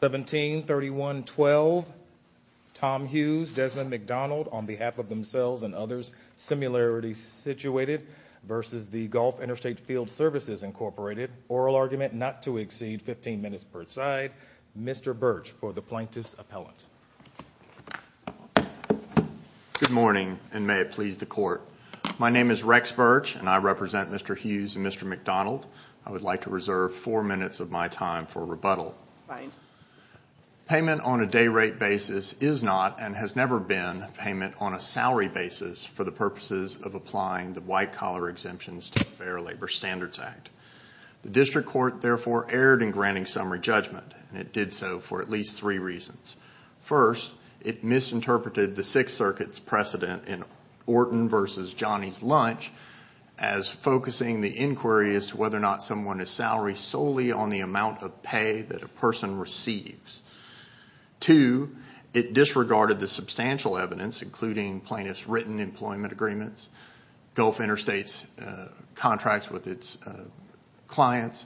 1731 12 Tom Hughes Desmond McDonald on behalf of themselves and others similarity situated versus the Gulf Interstate Field Services Incorporated oral argument not to exceed 15 minutes per side Mr. Birch for the plaintiff's appellants. Good morning and may it please the court my name is Rex Birch and I represent Mr. Hughes and Mr. McDonald I would like to reserve four minutes of my time for rebuttal. Payment on a day-rate basis is not and has never been payment on a salary basis for the purposes of applying the white-collar exemptions to Fair Labor Standards Act. The district court therefore erred in granting summary judgment and it did so for at least three reasons. First it misinterpreted the Sixth Circuit's precedent in Orton versus Johnny's lunch as focusing the inquiry as to whether or not someone is salary solely on the amount of pay that a person receives. Two, it disregarded the substantial evidence including plaintiff's written employment agreements, Gulf Interstate's contracts with its clients,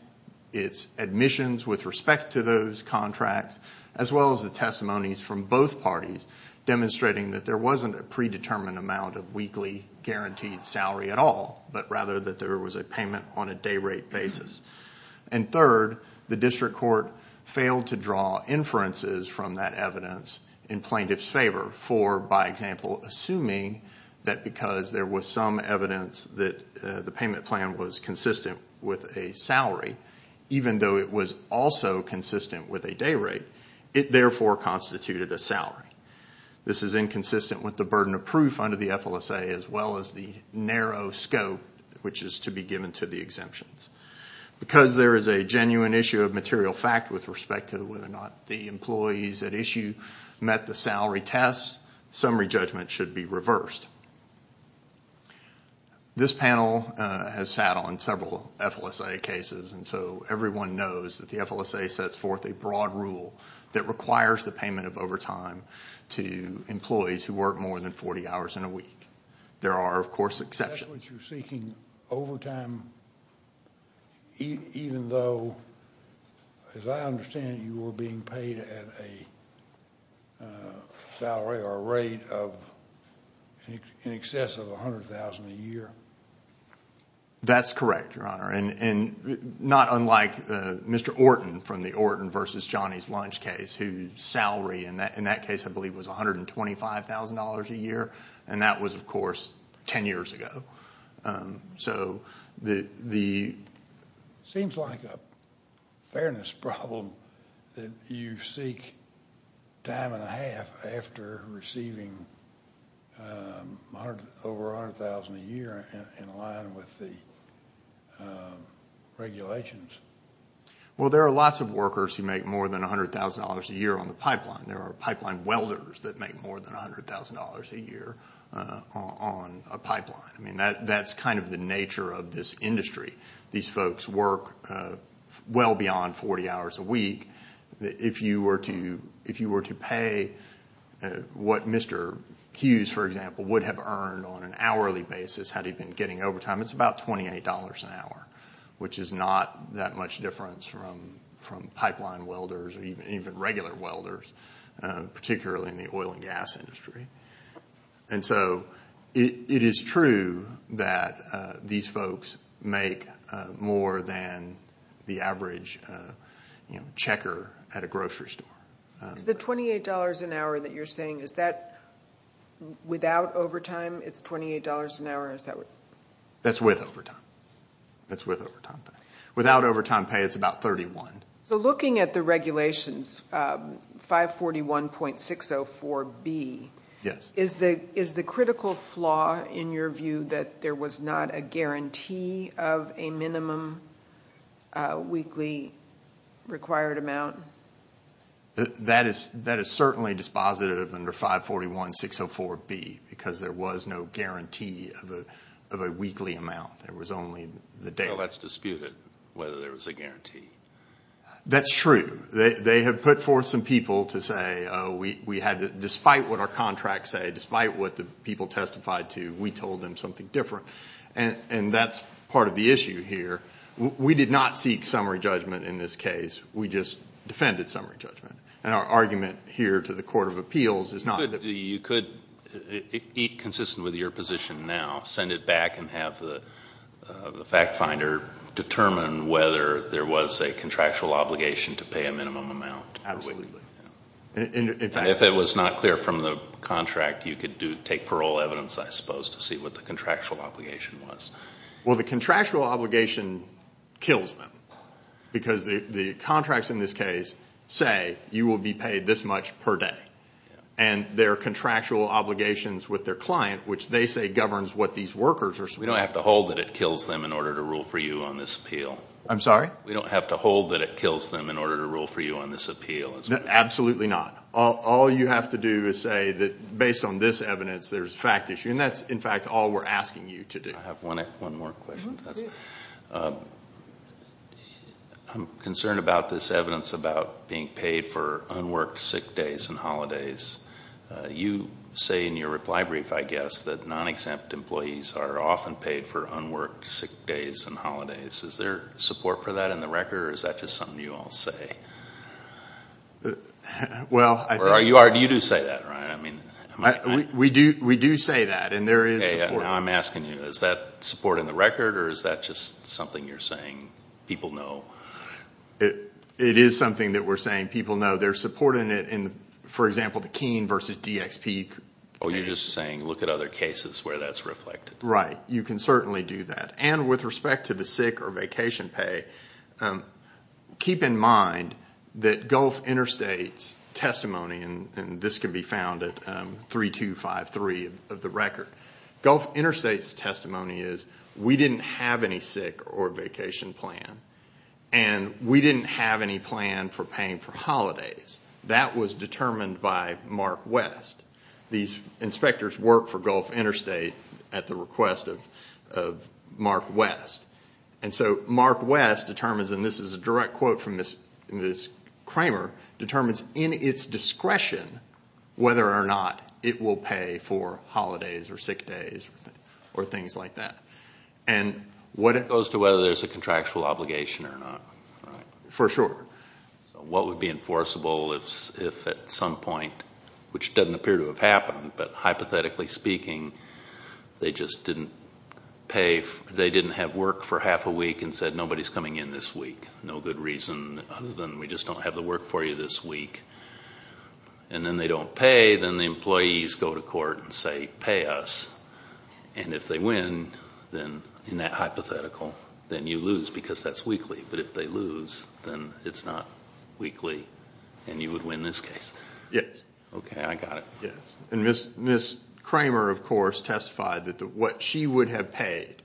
its admissions with respect to those contracts, as well as the testimonies from both parties demonstrating that there wasn't a predetermined amount of weekly guaranteed salary at all but rather that there was a payment on a day-rate basis. And third, the district court failed to draw inferences from that evidence in plaintiff's favor for by example assuming that because there was some evidence that the payment plan was consistent with a salary even though it was also consistent with a day-rate it therefore constituted a salary. This is inconsistent with the burden of proof under the FLSA as well as the narrow scope which is to be given to the exemptions. Because there is a genuine issue of material fact with respect to whether or not the employees at issue met the salary test, summary judgment should be reversed. This panel has sat on several FLSA cases and so everyone knows that the FLSA sets forth a broad rule that requires the payment of $100,000 a week. There are, of course, exceptions. Especially if you're seeking overtime even though, as I understand it, you were being paid at a salary or a rate of in excess of $100,000 a year? That's correct, Your Honor, and not unlike Mr. Orton from the Orton versus Johnny's lunch case whose salary in that case, I believe, was $125,000 a year and that was, of course, ten years ago. It seems like a fairness problem that you seek time and a half after receiving over $100,000 a year in line with the regulations. Well, there are lots of workers who make more than $100,000 a year on the pipeline. There are pipeline welders that make more than $100,000 a year on a pipeline. I mean, that's kind of the nature of this industry. These folks work well beyond 40 hours a week. If you were to pay what Mr. Hughes, for example, would have earned on an hourly basis had he been getting overtime, it's about $28 an hour, which is not that much difference from pipeline welders or even regular welders, particularly in the oil and gas industry. And so it is true that these folks make more than the average checker at a grocery store. Is the $28 an hour that you're saying, is that without overtime, it's $28 an hour? That's with overtime. That's with overtime. Without overtime pay, it's about $31. So looking at the regulations, 541.604B, is the critical flaw, in your view, that there was not a guarantee of a minimum weekly required amount? That is certainly dispositive under 541.604B, because there was no guarantee of a weekly amount. There was only the daily. So that's disputed, whether there was a guarantee. That's true. They have put forth some people to say, despite what our contracts say, despite what the people testified to, we told them something different. And that's part of the issue here. We did not seek summary judgment in this case. We just defended summary judgment. And our argument here to the Court of Appeals is not that... You could, consistent with your position now, send it back and have the fact finder determine whether there was a contractual obligation to pay a minimum amount. Absolutely. If it was not clear from the contract, you could take parole evidence, I suppose, to see what the contractual obligation was. Well, the contractual obligation kills them. Because the contracts in this case say you will be paid this much per day. And there are contractual obligations with their client, which they say governs what these workers are supposed to do. We don't have to hold that it kills them in order to rule for you on this appeal. I'm sorry? We don't have to hold that it kills them in order to rule for you on this appeal. Absolutely not. All you have to do is say that, based on this evidence, there's fact issue. And that's, in fact, all we're asking you to do. I have one more question. I'm concerned about this evidence about being paid for unworked sick days and holidays. You say in your reply brief, I guess, that non-exempt employees are often paid for unworked sick days and holidays. Is there support for that in the record, or is that just something you all say? You do say that, right? We do say that, and there is support. Now I'm asking you, is that support in the record, or is that just something you're saying people know? It is something that we're saying people know. There's support in it in, for example, the Keene versus DXP case. Oh, you're just saying look at other cases where that's reflected. Right. You can certainly do that. And with respect to the sick or vacation pay, keep in mind that Gulf Interstates testimony, and this can be found at 3253 of the record, Gulf Interstates testimony is we didn't have any sick or vacation plan, and we didn't have any plan for paying for holidays. That was determined by Mark West. These inspectors worked for Gulf Interstate at the request of Mark West. And so Mark West determines, and this is a direct quote from Ms. Kramer, determines in its discretion whether or not it will pay for holidays or sick days or things like that. And what it goes to whether there's a contractual obligation or not. Right. For sure. So what would be enforceable if at some point, which doesn't appear to have happened, but hypothetically speaking they just didn't pay, they didn't have work for half a week and said nobody's coming in this week. No good reason other than we just don't have the work for you this week. And then they don't pay. Then the employees go to court and say pay us. And if they win, then in that hypothetical, then you lose because that's weekly. But if they lose, then it's not weekly and you would win this case. Yes. Okay, I got it. Yes. And Ms. Kramer, of course, testified that what she would have paid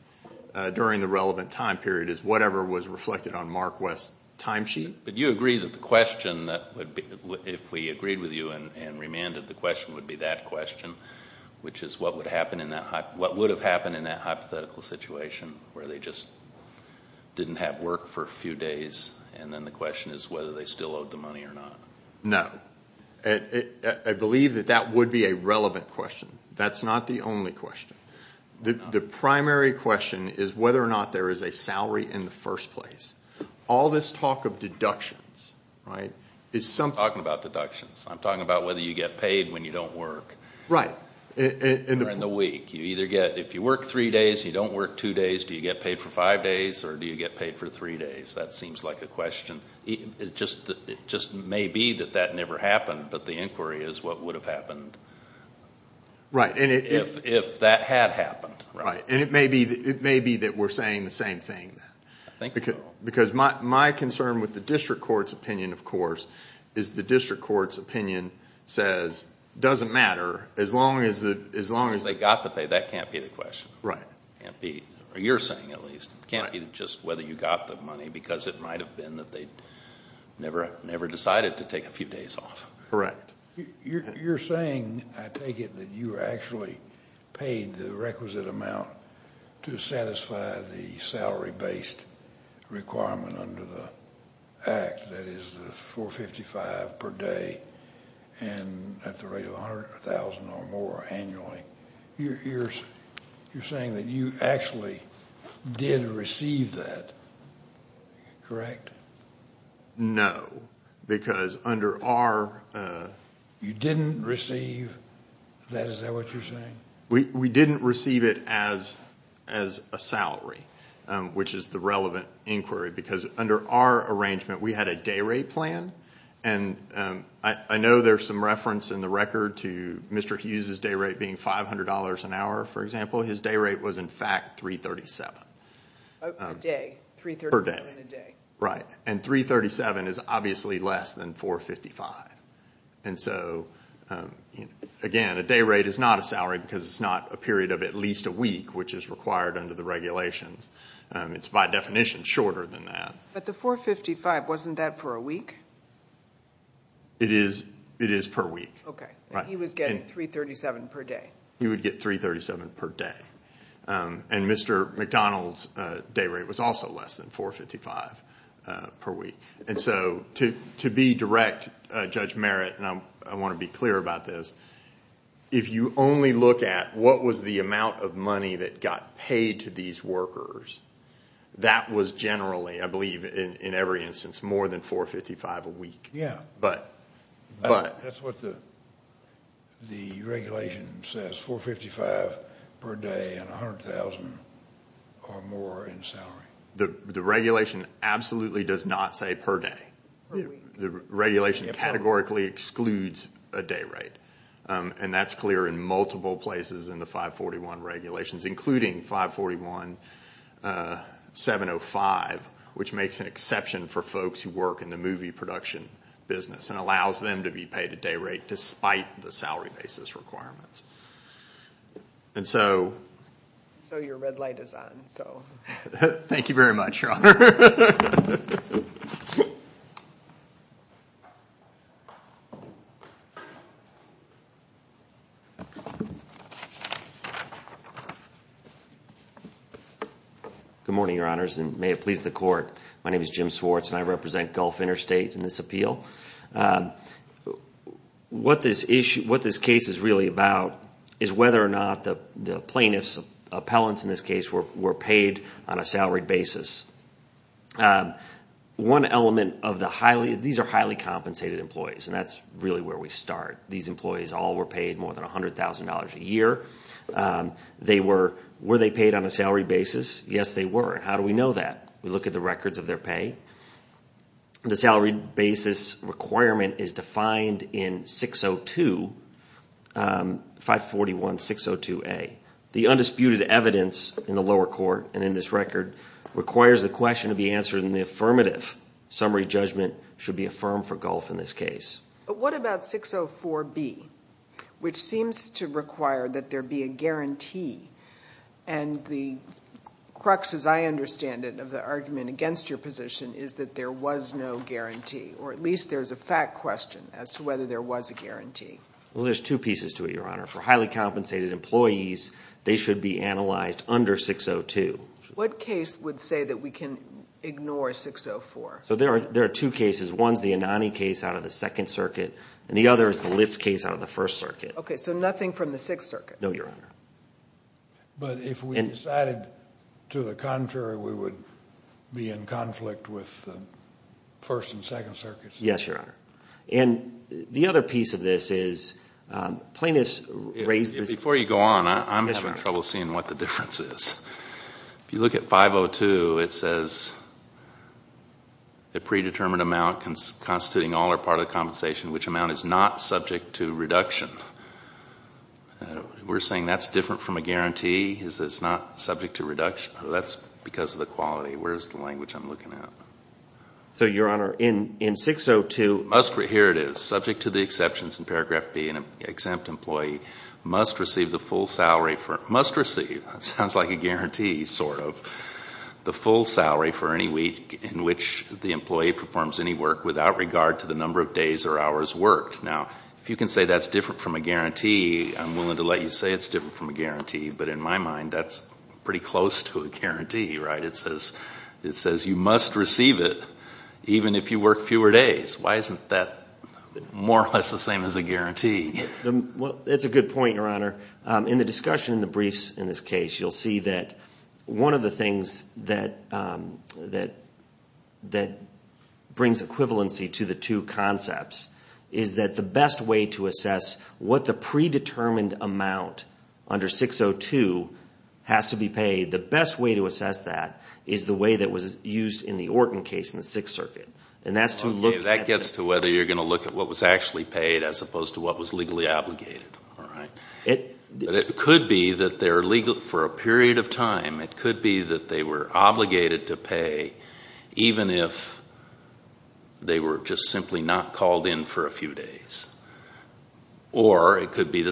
during the relevant time period is whatever was reflected on Mark West's timesheet. But you agree that the question, if we agreed with you and remanded, the question would be that question, which is what would have happened in that hypothetical situation where they just didn't have work for a few days, and then the question is whether they still owed the money or not. No. I believe that that would be a relevant question. That's not the only question. The primary question is whether or not there is a salary in the first place. All this talk of deductions, right, is something. I'm not talking about deductions. I'm talking about whether you get paid when you don't work. Right. Or in the week. If you work three days and you don't work two days, do you get paid for five days or do you get paid for three days? That seems like a question. It just may be that that never happened, but the inquiry is what would have happened. Right. If that had happened. Right. It may be that we're saying the same thing then. I think so. Because my concern with the district court's opinion, of course, is the district court's opinion says it doesn't matter as long as... As long as they got the pay. That can't be the question. Right. It can't be, or you're saying at least. It can't be just whether you got the money because it might have been that they never decided to take a few days off. Correct. You're saying, I take it, that you were actually paid the requisite amount to satisfy the salary-based requirement under the act, that is the $455 per day and at the rate of $100,000 or more annually. You're saying that you actually did receive that, correct? No, because under our... You didn't receive that? Is that what you're saying? We didn't receive it as a salary, which is the relevant inquiry, because under our arrangement we had a day rate plan. I know there's some reference in the record to Mr. Hughes' day rate being $500 an hour, for example. His day rate was, in fact, $337. A day. $337 a day. Right, and $337 is obviously less than $455. Again, a day rate is not a salary because it's not a period of at least a week, which is required under the regulations. It's by definition shorter than that. But the $455, wasn't that for a week? It is per week. He was getting $337 per day. He would get $337 per day. Mr. McDonald's day rate was also less than $455 per week. To be direct, Judge Merritt, and I want to be clear about this, if you only look at what was the amount of money that got paid to these workers, that was generally, I believe in every instance, more than $455 a week. That's what the regulation says, $455 per day and $100,000 or more in salary. The regulation absolutely does not say per day. The regulation categorically excludes a day rate, and that's clear in multiple places in the 541 regulations, including 541-705, which makes an exception for folks who work in the movie production business and allows them to be paid a day rate despite the salary basis requirements. So your red light is on. Good morning, Your Honors, and may it please the court. My name is Jim Swartz, and I represent Gulf Interstate in this appeal. What this case is really about is whether or not the plaintiff's appellants, in this case, were paid on a salary basis. One element of the highly – these are highly compensated employees, and that's really where we start. These employees all were paid more than $100,000 a year. Were they paid on a salary basis? Yes, they were, and how do we know that? We look at the records of their pay. The salary basis requirement is defined in 602, 541-602A. The undisputed evidence in the lower court and in this record requires the question to be answered in the affirmative. Summary judgment should be affirmed for Gulf in this case. But what about 604B, which seems to require that there be a guarantee, and the crux, as I understand it, of the argument against your position is that there was no guarantee, or at least there's a fact question as to whether there was a guarantee. Well, there's two pieces to it, Your Honor. For highly compensated employees, they should be analyzed under 602. What case would say that we can ignore 604? There are two cases. One is the Anani case out of the Second Circuit, and the other is the Litz case out of the First Circuit. Okay, so nothing from the Sixth Circuit? No, Your Honor. But if we decided to the contrary, Yes, Your Honor. And the other piece of this is plaintiffs raise this. Before you go on, I'm having trouble seeing what the difference is. If you look at 502, it says, We're saying that's different from a guarantee, is that it's not subject to reduction? That's because of the quality. Where's the language I'm looking at? So, Your Honor, in 602, Now, if you can say that's different from a guarantee, I'm willing to let you say it's different from a guarantee. But in my mind, that's pretty close to a guarantee, right? It says you must receive it even if you work fewer days. Why isn't that more or less the same as a guarantee? Well, that's a good point, Your Honor. In the discussion in the briefs in this case, you'll see that one of the things that brings equivalency to the two concepts is that the best way to assess what the predetermined amount under 602 has to be paid, the best way to assess that is the way that was used in the Orton case in the Sixth Circuit. That gets to whether you're going to look at what was actually paid as opposed to what was legally obligated. But it could be that for a period of time, it could be that they were obligated to pay even if they were just simply not called in for a few days. And it could be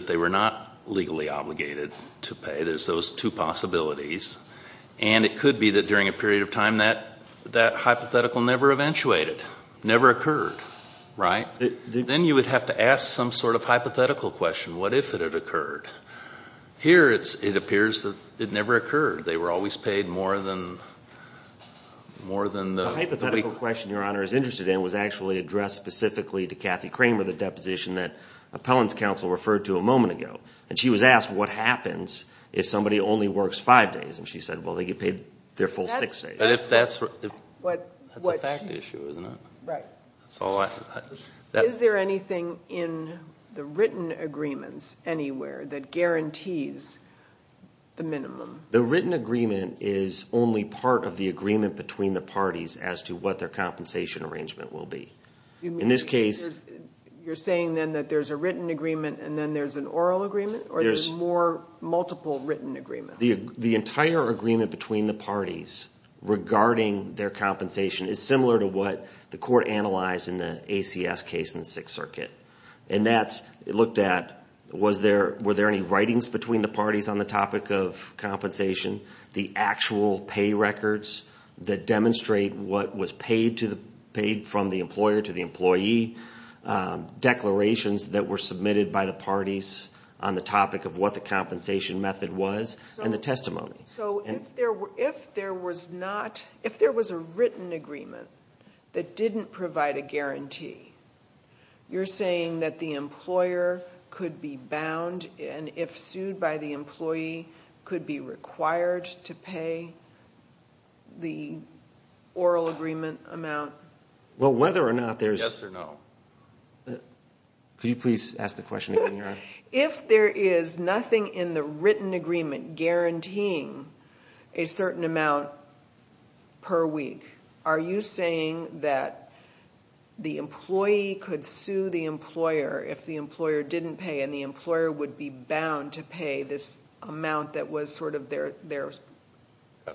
that during a period of time, that hypothetical never eventuated, never occurred, right? Then you would have to ask some sort of hypothetical question. What if it had occurred? Here, it appears that it never occurred. They were always paid more than the week. The hypothetical question Your Honor is interested in was actually addressed specifically to Cathy Kramer, the deposition that Appellant's counsel referred to a moment ago. And she was asked what happens if somebody only works five days. And she said, well, they get paid their full six days. That's a fact issue, isn't it? Right. Is there anything in the written agreements anywhere that guarantees the minimum? The written agreement is only part of the agreement between the parties as to what their compensation arrangement will be. In this case, You're saying then that there's a written agreement and then there's an oral agreement? Or there's more multiple written agreements? The entire agreement between the parties regarding their compensation is similar to what the court analyzed in the ACS case in the Sixth Circuit. And that's looked at, were there any writings between the parties on the topic of compensation, the actual pay records that demonstrate what was paid from the employer to the employee, declarations that were submitted by the parties on the topic of what the compensation method was, and the testimony. So if there was a written agreement that didn't provide a guarantee, you're saying that the employer could be bound, and if sued by the employee, could be required to pay the oral agreement amount? Well, whether or not there's... Yes or no? Could you please ask the question again, Your Honor? If there is nothing in the written agreement guaranteeing a certain amount per week, are you saying that the employee could sue the employer if the employer didn't pay, and the employer would be bound to pay this amount that was sort of their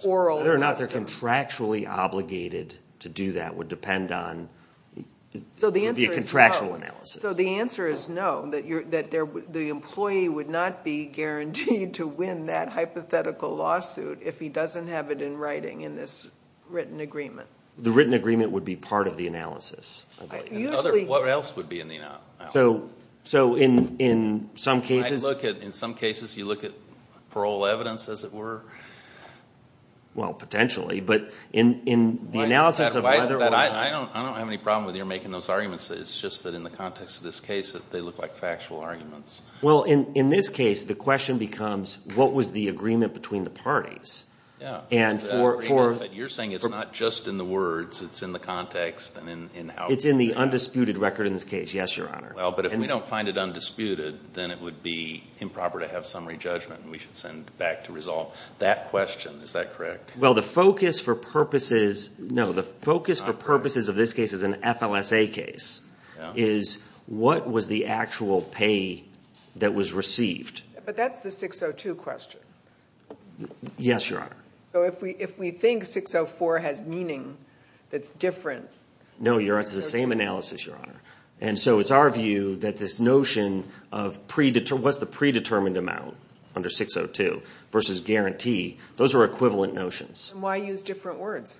oral... Whether or not they're contractually obligated to do that would depend on the contractual analysis. So the answer is no, that the employee would not be guaranteed to win that hypothetical lawsuit if he doesn't have it in writing in this written agreement. The written agreement would be part of the analysis. What else would be in the analysis? So in some cases... In some cases, you look at parole evidence, as it were. Well, potentially. But in the analysis of whether or not... I don't have any problem with you making those arguments. It's just that in the context of this case, they look like factual arguments. Well, in this case, the question becomes, what was the agreement between the parties? And for... You're saying it's not just in the words, it's in the context and in how... It's in the undisputed record in this case. Yes, Your Honor. Well, but if we don't find it undisputed, then it would be improper to have summary judgment, and we should send it back to resolve. That question, is that correct? Well, the focus for purposes... No, the focus for purposes of this case is an FLSA case, is what was the actual pay that was received? But that's the 602 question. Yes, Your Honor. So if we think 604 has meaning that's different... No, Your Honor, it's the same analysis, Your Honor. And so it's our view that this notion of predetermined... versus guarantee, those are equivalent notions. And why use different words?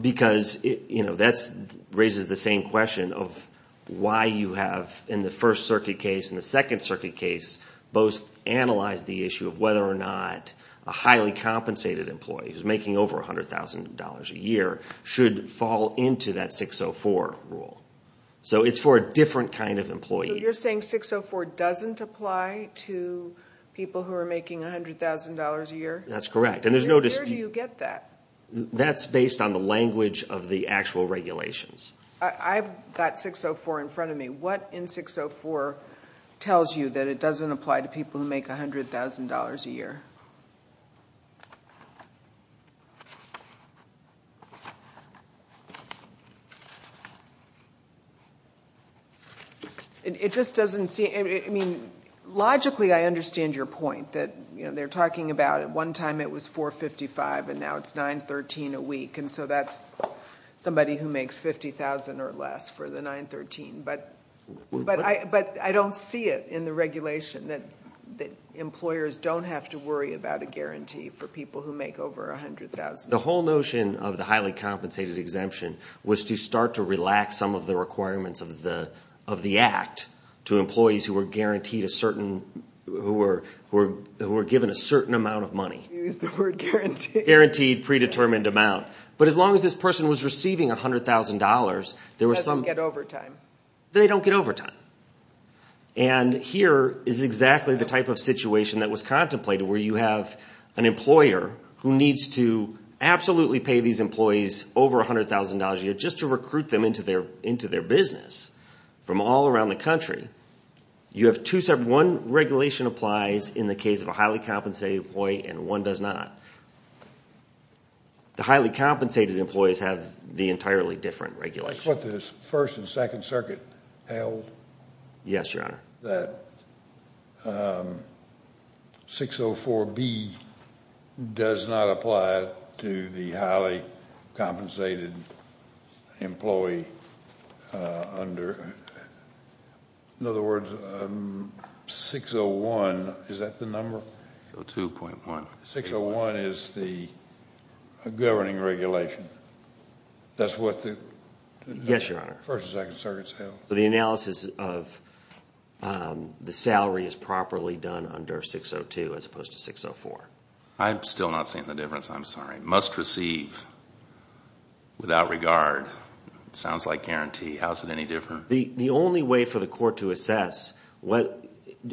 Because that raises the same question of why you have, in the First Circuit case and the Second Circuit case, both analyzed the issue of whether or not a highly compensated employee, who's making over $100,000 a year, should fall into that 604 rule. So it's for a different kind of employee. So you're saying 604 doesn't apply to people who are making $100,000 a year? That's correct. Where do you get that? That's based on the language of the actual regulations. I've got 604 in front of me. What in 604 tells you that it doesn't apply to people who make $100,000 a year? It just doesn't seem... I mean, logically, I understand your point, that they're talking about at one time it was 455, and now it's 913 a week. And so that's somebody who makes $50,000 or less for the 913. But I don't see it in the regulation whether or not they're making $100,000 a year. I don't worry about a guarantee for people who make over $100,000. The whole notion of the highly compensated exemption was to start to relax some of the requirements of the Act to employees who were guaranteed a certain... who were given a certain amount of money. You used the word guaranteed. Guaranteed predetermined amount. But as long as this person was receiving $100,000, there was some... They don't get overtime. They don't get overtime. And here is exactly the type of situation that was contemplated, where you have an employer who needs to absolutely pay these employees over $100,000 a year just to recruit them into their business from all around the country. You have two separate... One regulation applies in the case of a highly compensated employee, and one does not. The highly compensated employees have the entirely different regulation. Is this what the 1st and 2nd Circuit held? Yes, Your Honor. That 604B does not apply to the highly compensated employee under... In other words, 601... Is that the number? 602.1. 601 is the governing regulation. That's what the... Yes, Your Honor. 1st and 2nd Circuits held. The analysis of the salary is properly done under 602 as opposed to 604. I'm still not seeing the difference. I'm sorry. Must receive without regard. Sounds like guarantee. How is it any different? The only way for the court to assess,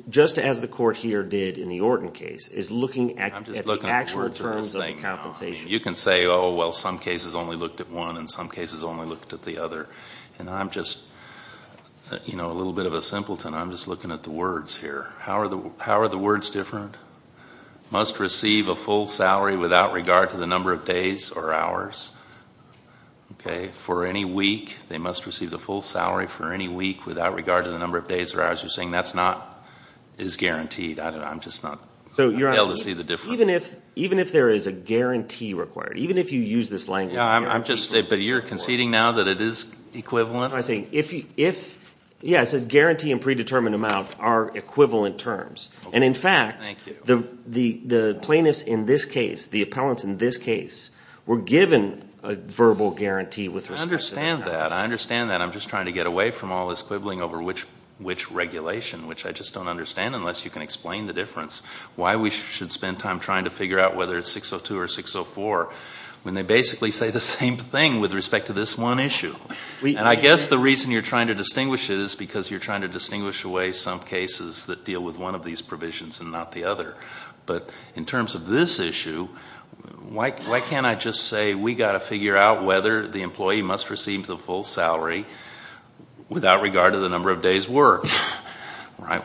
just as the court here did in the Orton case, is looking at the actual terms of the compensation. You can say, oh, well, some cases only looked at one and some cases only looked at the other. And I'm just, you know, a little bit of a simpleton. I'm just looking at the words here. How are the words different? Must receive a full salary without regard to the number of days or hours. Okay? For any week, they must receive the full salary for any week without regard to the number of days or hours. You're saying that's not... is guaranteed. I don't know. I'm just not able to see the difference. Even if there is a guarantee required, even if you use this language... I'm just... But you're conceding now that it is equivalent? I think if... Yes, a guarantee and predetermined amount are equivalent terms. And in fact... Thank you. The plaintiffs in this case, the appellants in this case, were given a verbal guarantee with respect to... I understand that. I understand that. over which regulation, which I just don't understand unless you can explain the difference. Why we should spend time trying to figure out whether it's 602 or 604 when they basically say the same thing with respect to this one issue? And I guess the reason you're trying to distinguish it is because you're trying to distinguish away some cases that deal with one of these provisions and not the other. But in terms of this issue, why can't I just say we've got to figure out whether the employee must receive the full salary without regard to the number of days worked?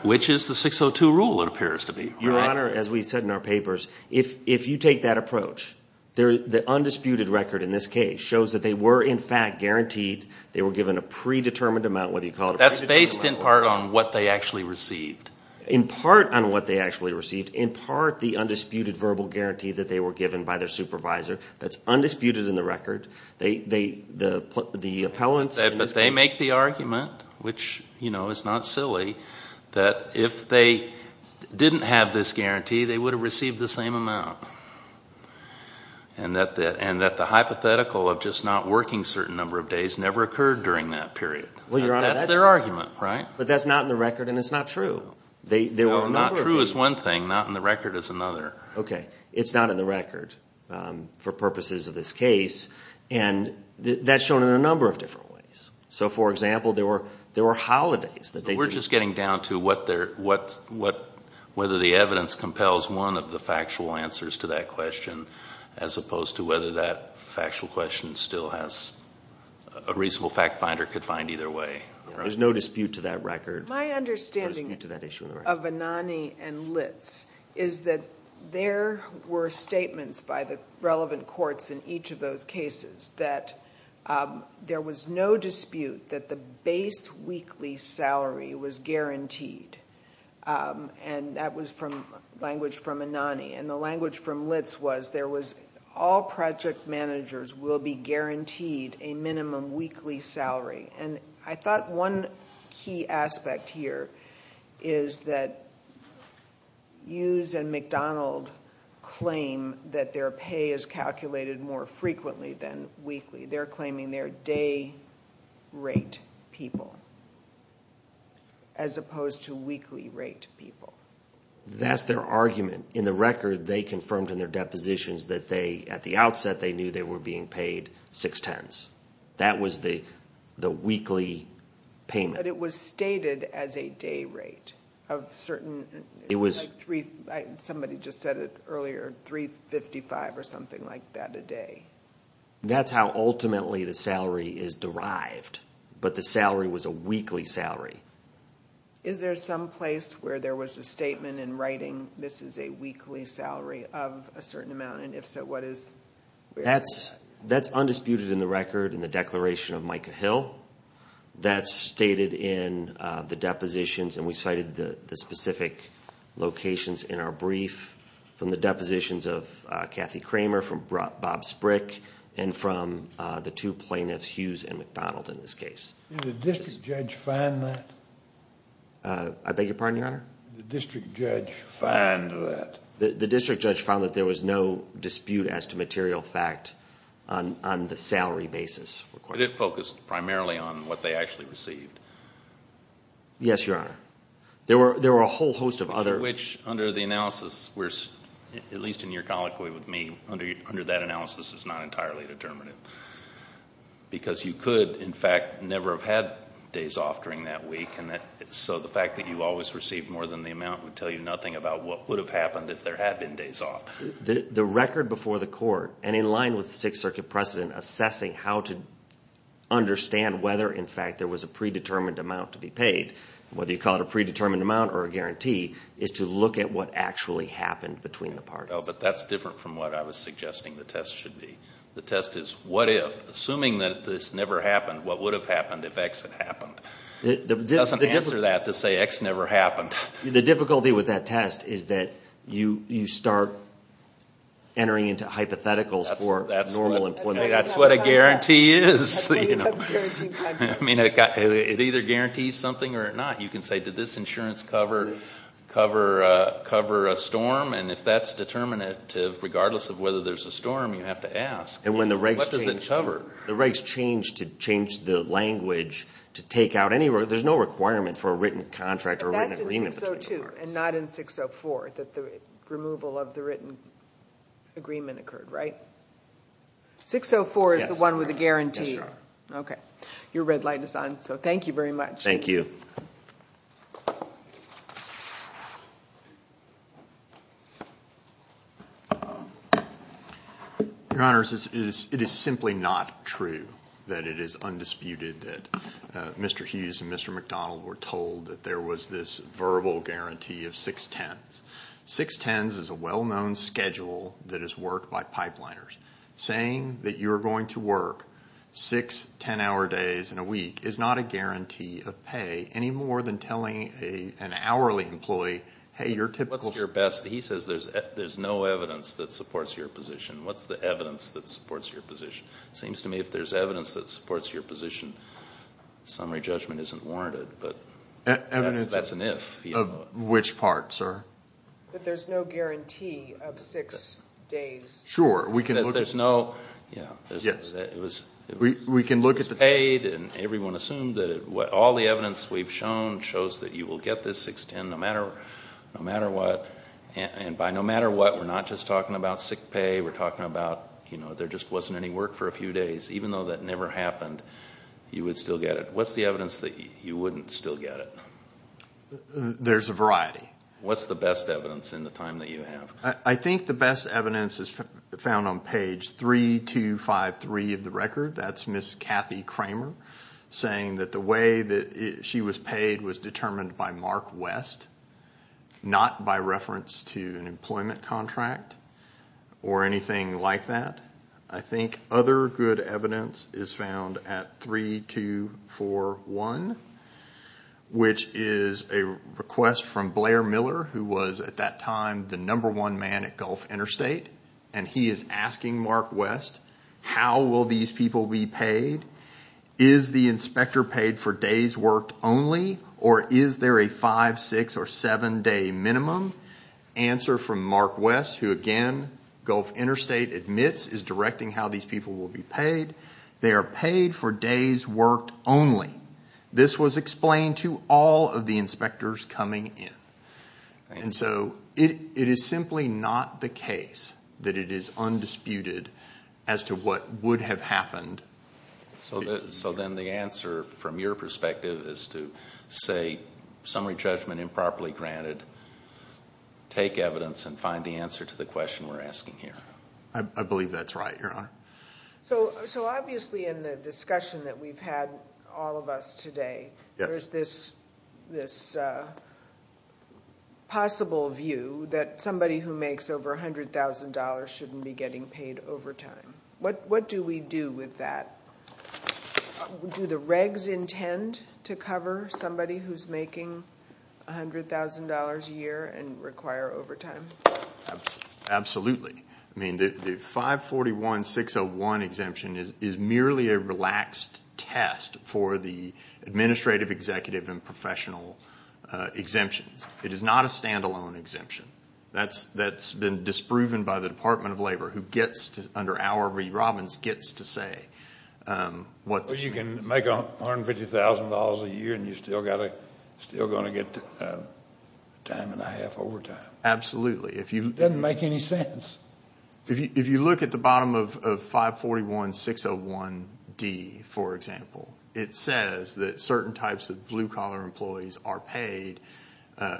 Which is the 602 rule, it appears to be. Your Honor, as we said in our papers, if you take that approach, the undisputed record in this case shows that they were in fact guaranteed they were given a predetermined amount... That's based in part on what they actually received. In part on what they actually received, in part the undisputed verbal guarantee that they were given by their supervisor. That's undisputed in the record. The appellants... But they make the argument, which is not silly, that if they didn't have this guarantee, they would have received the same amount. And that the hypothetical of just not working a certain number of days never occurred during that period. That's their argument, right? But that's not in the record, and it's not true. Not true is one thing, not in the record is another. Okay, it's not in the record for purposes of this case. And that's shown in a number of different ways. So, for example, there were holidays that they... We're just getting down to what... whether the evidence compels one of the factual answers to that question, as opposed to whether that factual question still has... a reasonable fact-finder could find either way. There's no dispute to that record. My understanding of Anani and Litz is that there were statements by the relevant courts in each of those cases that there was no dispute that the base weekly salary was guaranteed. And that was language from Anani. And the language from Litz was there was all project managers will be guaranteed a minimum weekly salary. And I thought one key aspect here is that Hughes and McDonald claim that their pay is calculated more frequently than weekly. They're claiming they're day-rate people as opposed to weekly-rate people. That's their argument. In the record, they confirmed in their depositions that they, at the outset, they knew they were being paid six-tenths. That was the weekly payment. But it was stated as a day rate of certain... It was... Somebody just said it earlier, $3.55 or something like that a day. That's how ultimately the salary is derived. But the salary was a weekly salary. Is there some place where there was a statement in writing, this is a weekly salary of a certain amount? And if so, what is... That's undisputed in the record in the declaration of Micah Hill. That's stated in the depositions. And we cited the specific locations in our brief from the depositions of Kathy Kramer, from Bob Sprick, and from the two plaintiffs, Hughes and McDonald, in this case. Did the district judge find that? I beg your pardon, Your Honor? Did the district judge find that? The district judge found that there was no dispute as to material fact on the salary basis. But it focused primarily on what they actually received. Yes, Your Honor. There were a whole host of other... Which, under the analysis, at least in your colloquy with me, under that analysis is not entirely determinative. Because you could, in fact, never have had days off during that week. So the fact that you always received more than the amount would tell you nothing about what would have happened if there had been days off. The record before the court, and in line with the Sixth Circuit precedent assessing how to understand whether, in fact, there was a predetermined amount to be paid, whether you call it a predetermined amount or a guarantee, is to look at what actually happened between the parties. But that's different from what I was suggesting the test should be. The test is, what if, assuming that this never happened, what would have happened if X had happened? It doesn't answer that to say X never happened. The difficulty with that test is that you start entering into hypotheticals for normal employment. That's what a guarantee is. I mean, it either guarantees something or it not. You can say, did this insurance cover a storm? And if that's determinative, regardless of whether there's a storm, you have to ask, what does it cover? The regs change to change the language to take out any... There's no requirement for a written contract or written agreement between the parties. That's in 602 and not in 604, that the removal of the written agreement occurred, right? 604 is the one with the guarantee. Yes, Your Honor. Your red light is on, so thank you very much. Thank you. Your Honors, it is simply not true that it is undisputed that Mr. Hughes and Mr. McDonald were told that there was this verbal guarantee of 610s. 610s is a well-known schedule that is worked by pipeliners. Saying that you're going to work 6 10-hour days in a week is not a guarantee of pay, any more than telling an hourly employee, hey, your typical... What's your best... He says there's no evidence that supports your position. What's the evidence that supports your position? Seems to me if there's evidence that supports your position, summary judgment isn't warranted. But that's an if. Which part, sir? That there's no guarantee of 6 days. Sure. There's no... We can look at the... Everyone assumed that all the evidence we've shown shows that you will get this 610 no matter what. And by no matter what, we're not just talking about sick pay. We're talking about there just wasn't any work for a few days. Even though that never happened, you would still get it. What's the evidence that you wouldn't still get it? There's a variety. What's the best evidence in the time that you have? I think the best evidence is found on page 3253 of the record. That's Ms. Kathy Kramer saying that the way that she was paid was determined by Mark West, not by reference to an employment contract or anything like that. I think other good evidence is found at 3241, which is a request from Blair Miller, who was at that time the number one man at Gulf Interstate. And he is asking Mark West, how will these people be paid? Is the inspector paid for days worked only, or is there a five-, six-, or seven-day minimum? Answer from Mark West, who again, Gulf Interstate admits, is directing how these people will be paid. They are paid for days worked only. This was explained to all of the inspectors coming in. And so it is simply not the case that it is undisputed as to what would have happened. So then the answer from your perspective is to say, summary judgment improperly granted, take evidence and find the answer to the question we're asking here. I believe that's right, Your Honor. So obviously in the discussion that we've had, all of us today, there is this possible view that somebody who makes over $100,000 shouldn't be getting paid overtime. What do we do with that? Do the regs intend to cover somebody who's making $100,000 a year and require overtime? Absolutely. I mean, the 541-601 exemption is merely a relaxed test for the administrative, executive, and professional exemptions. It is not a standalone exemption. That's been disproven by the Department of Labor, who gets to, under our re-robins, gets to say what this means. But you can make $150,000 a year and you're still going to get time and a half overtime. Absolutely. It doesn't make any sense. If you look at the bottom of 541-601-D, for example, it says that certain types of blue-collar employees are paid,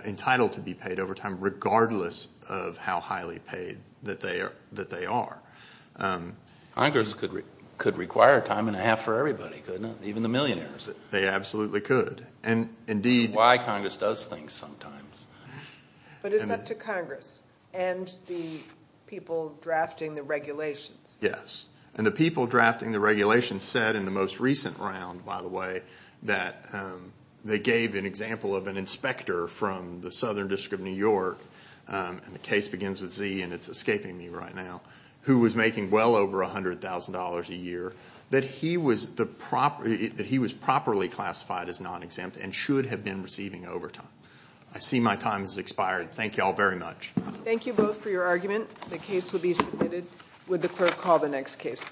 entitled to be paid overtime, regardless of how highly paid that they are. Congress could require time and a half for everybody, couldn't it? Even the millionaires. They absolutely could. That's why Congress does things sometimes. But it's up to Congress and the people drafting the regulations. Yes, and the people drafting the regulations said, in the most recent round, by the way, that they gave an example of an inspector from the Southern District of New York, and the case begins with Z and it's escaping me right now, who was making well over $100,000 a year, that he was properly classified as non-exempt and should have been receiving overtime. I see my time has expired. Thank you all very much. Thank you both for your argument. The case will be submitted. Would the clerk call the next case?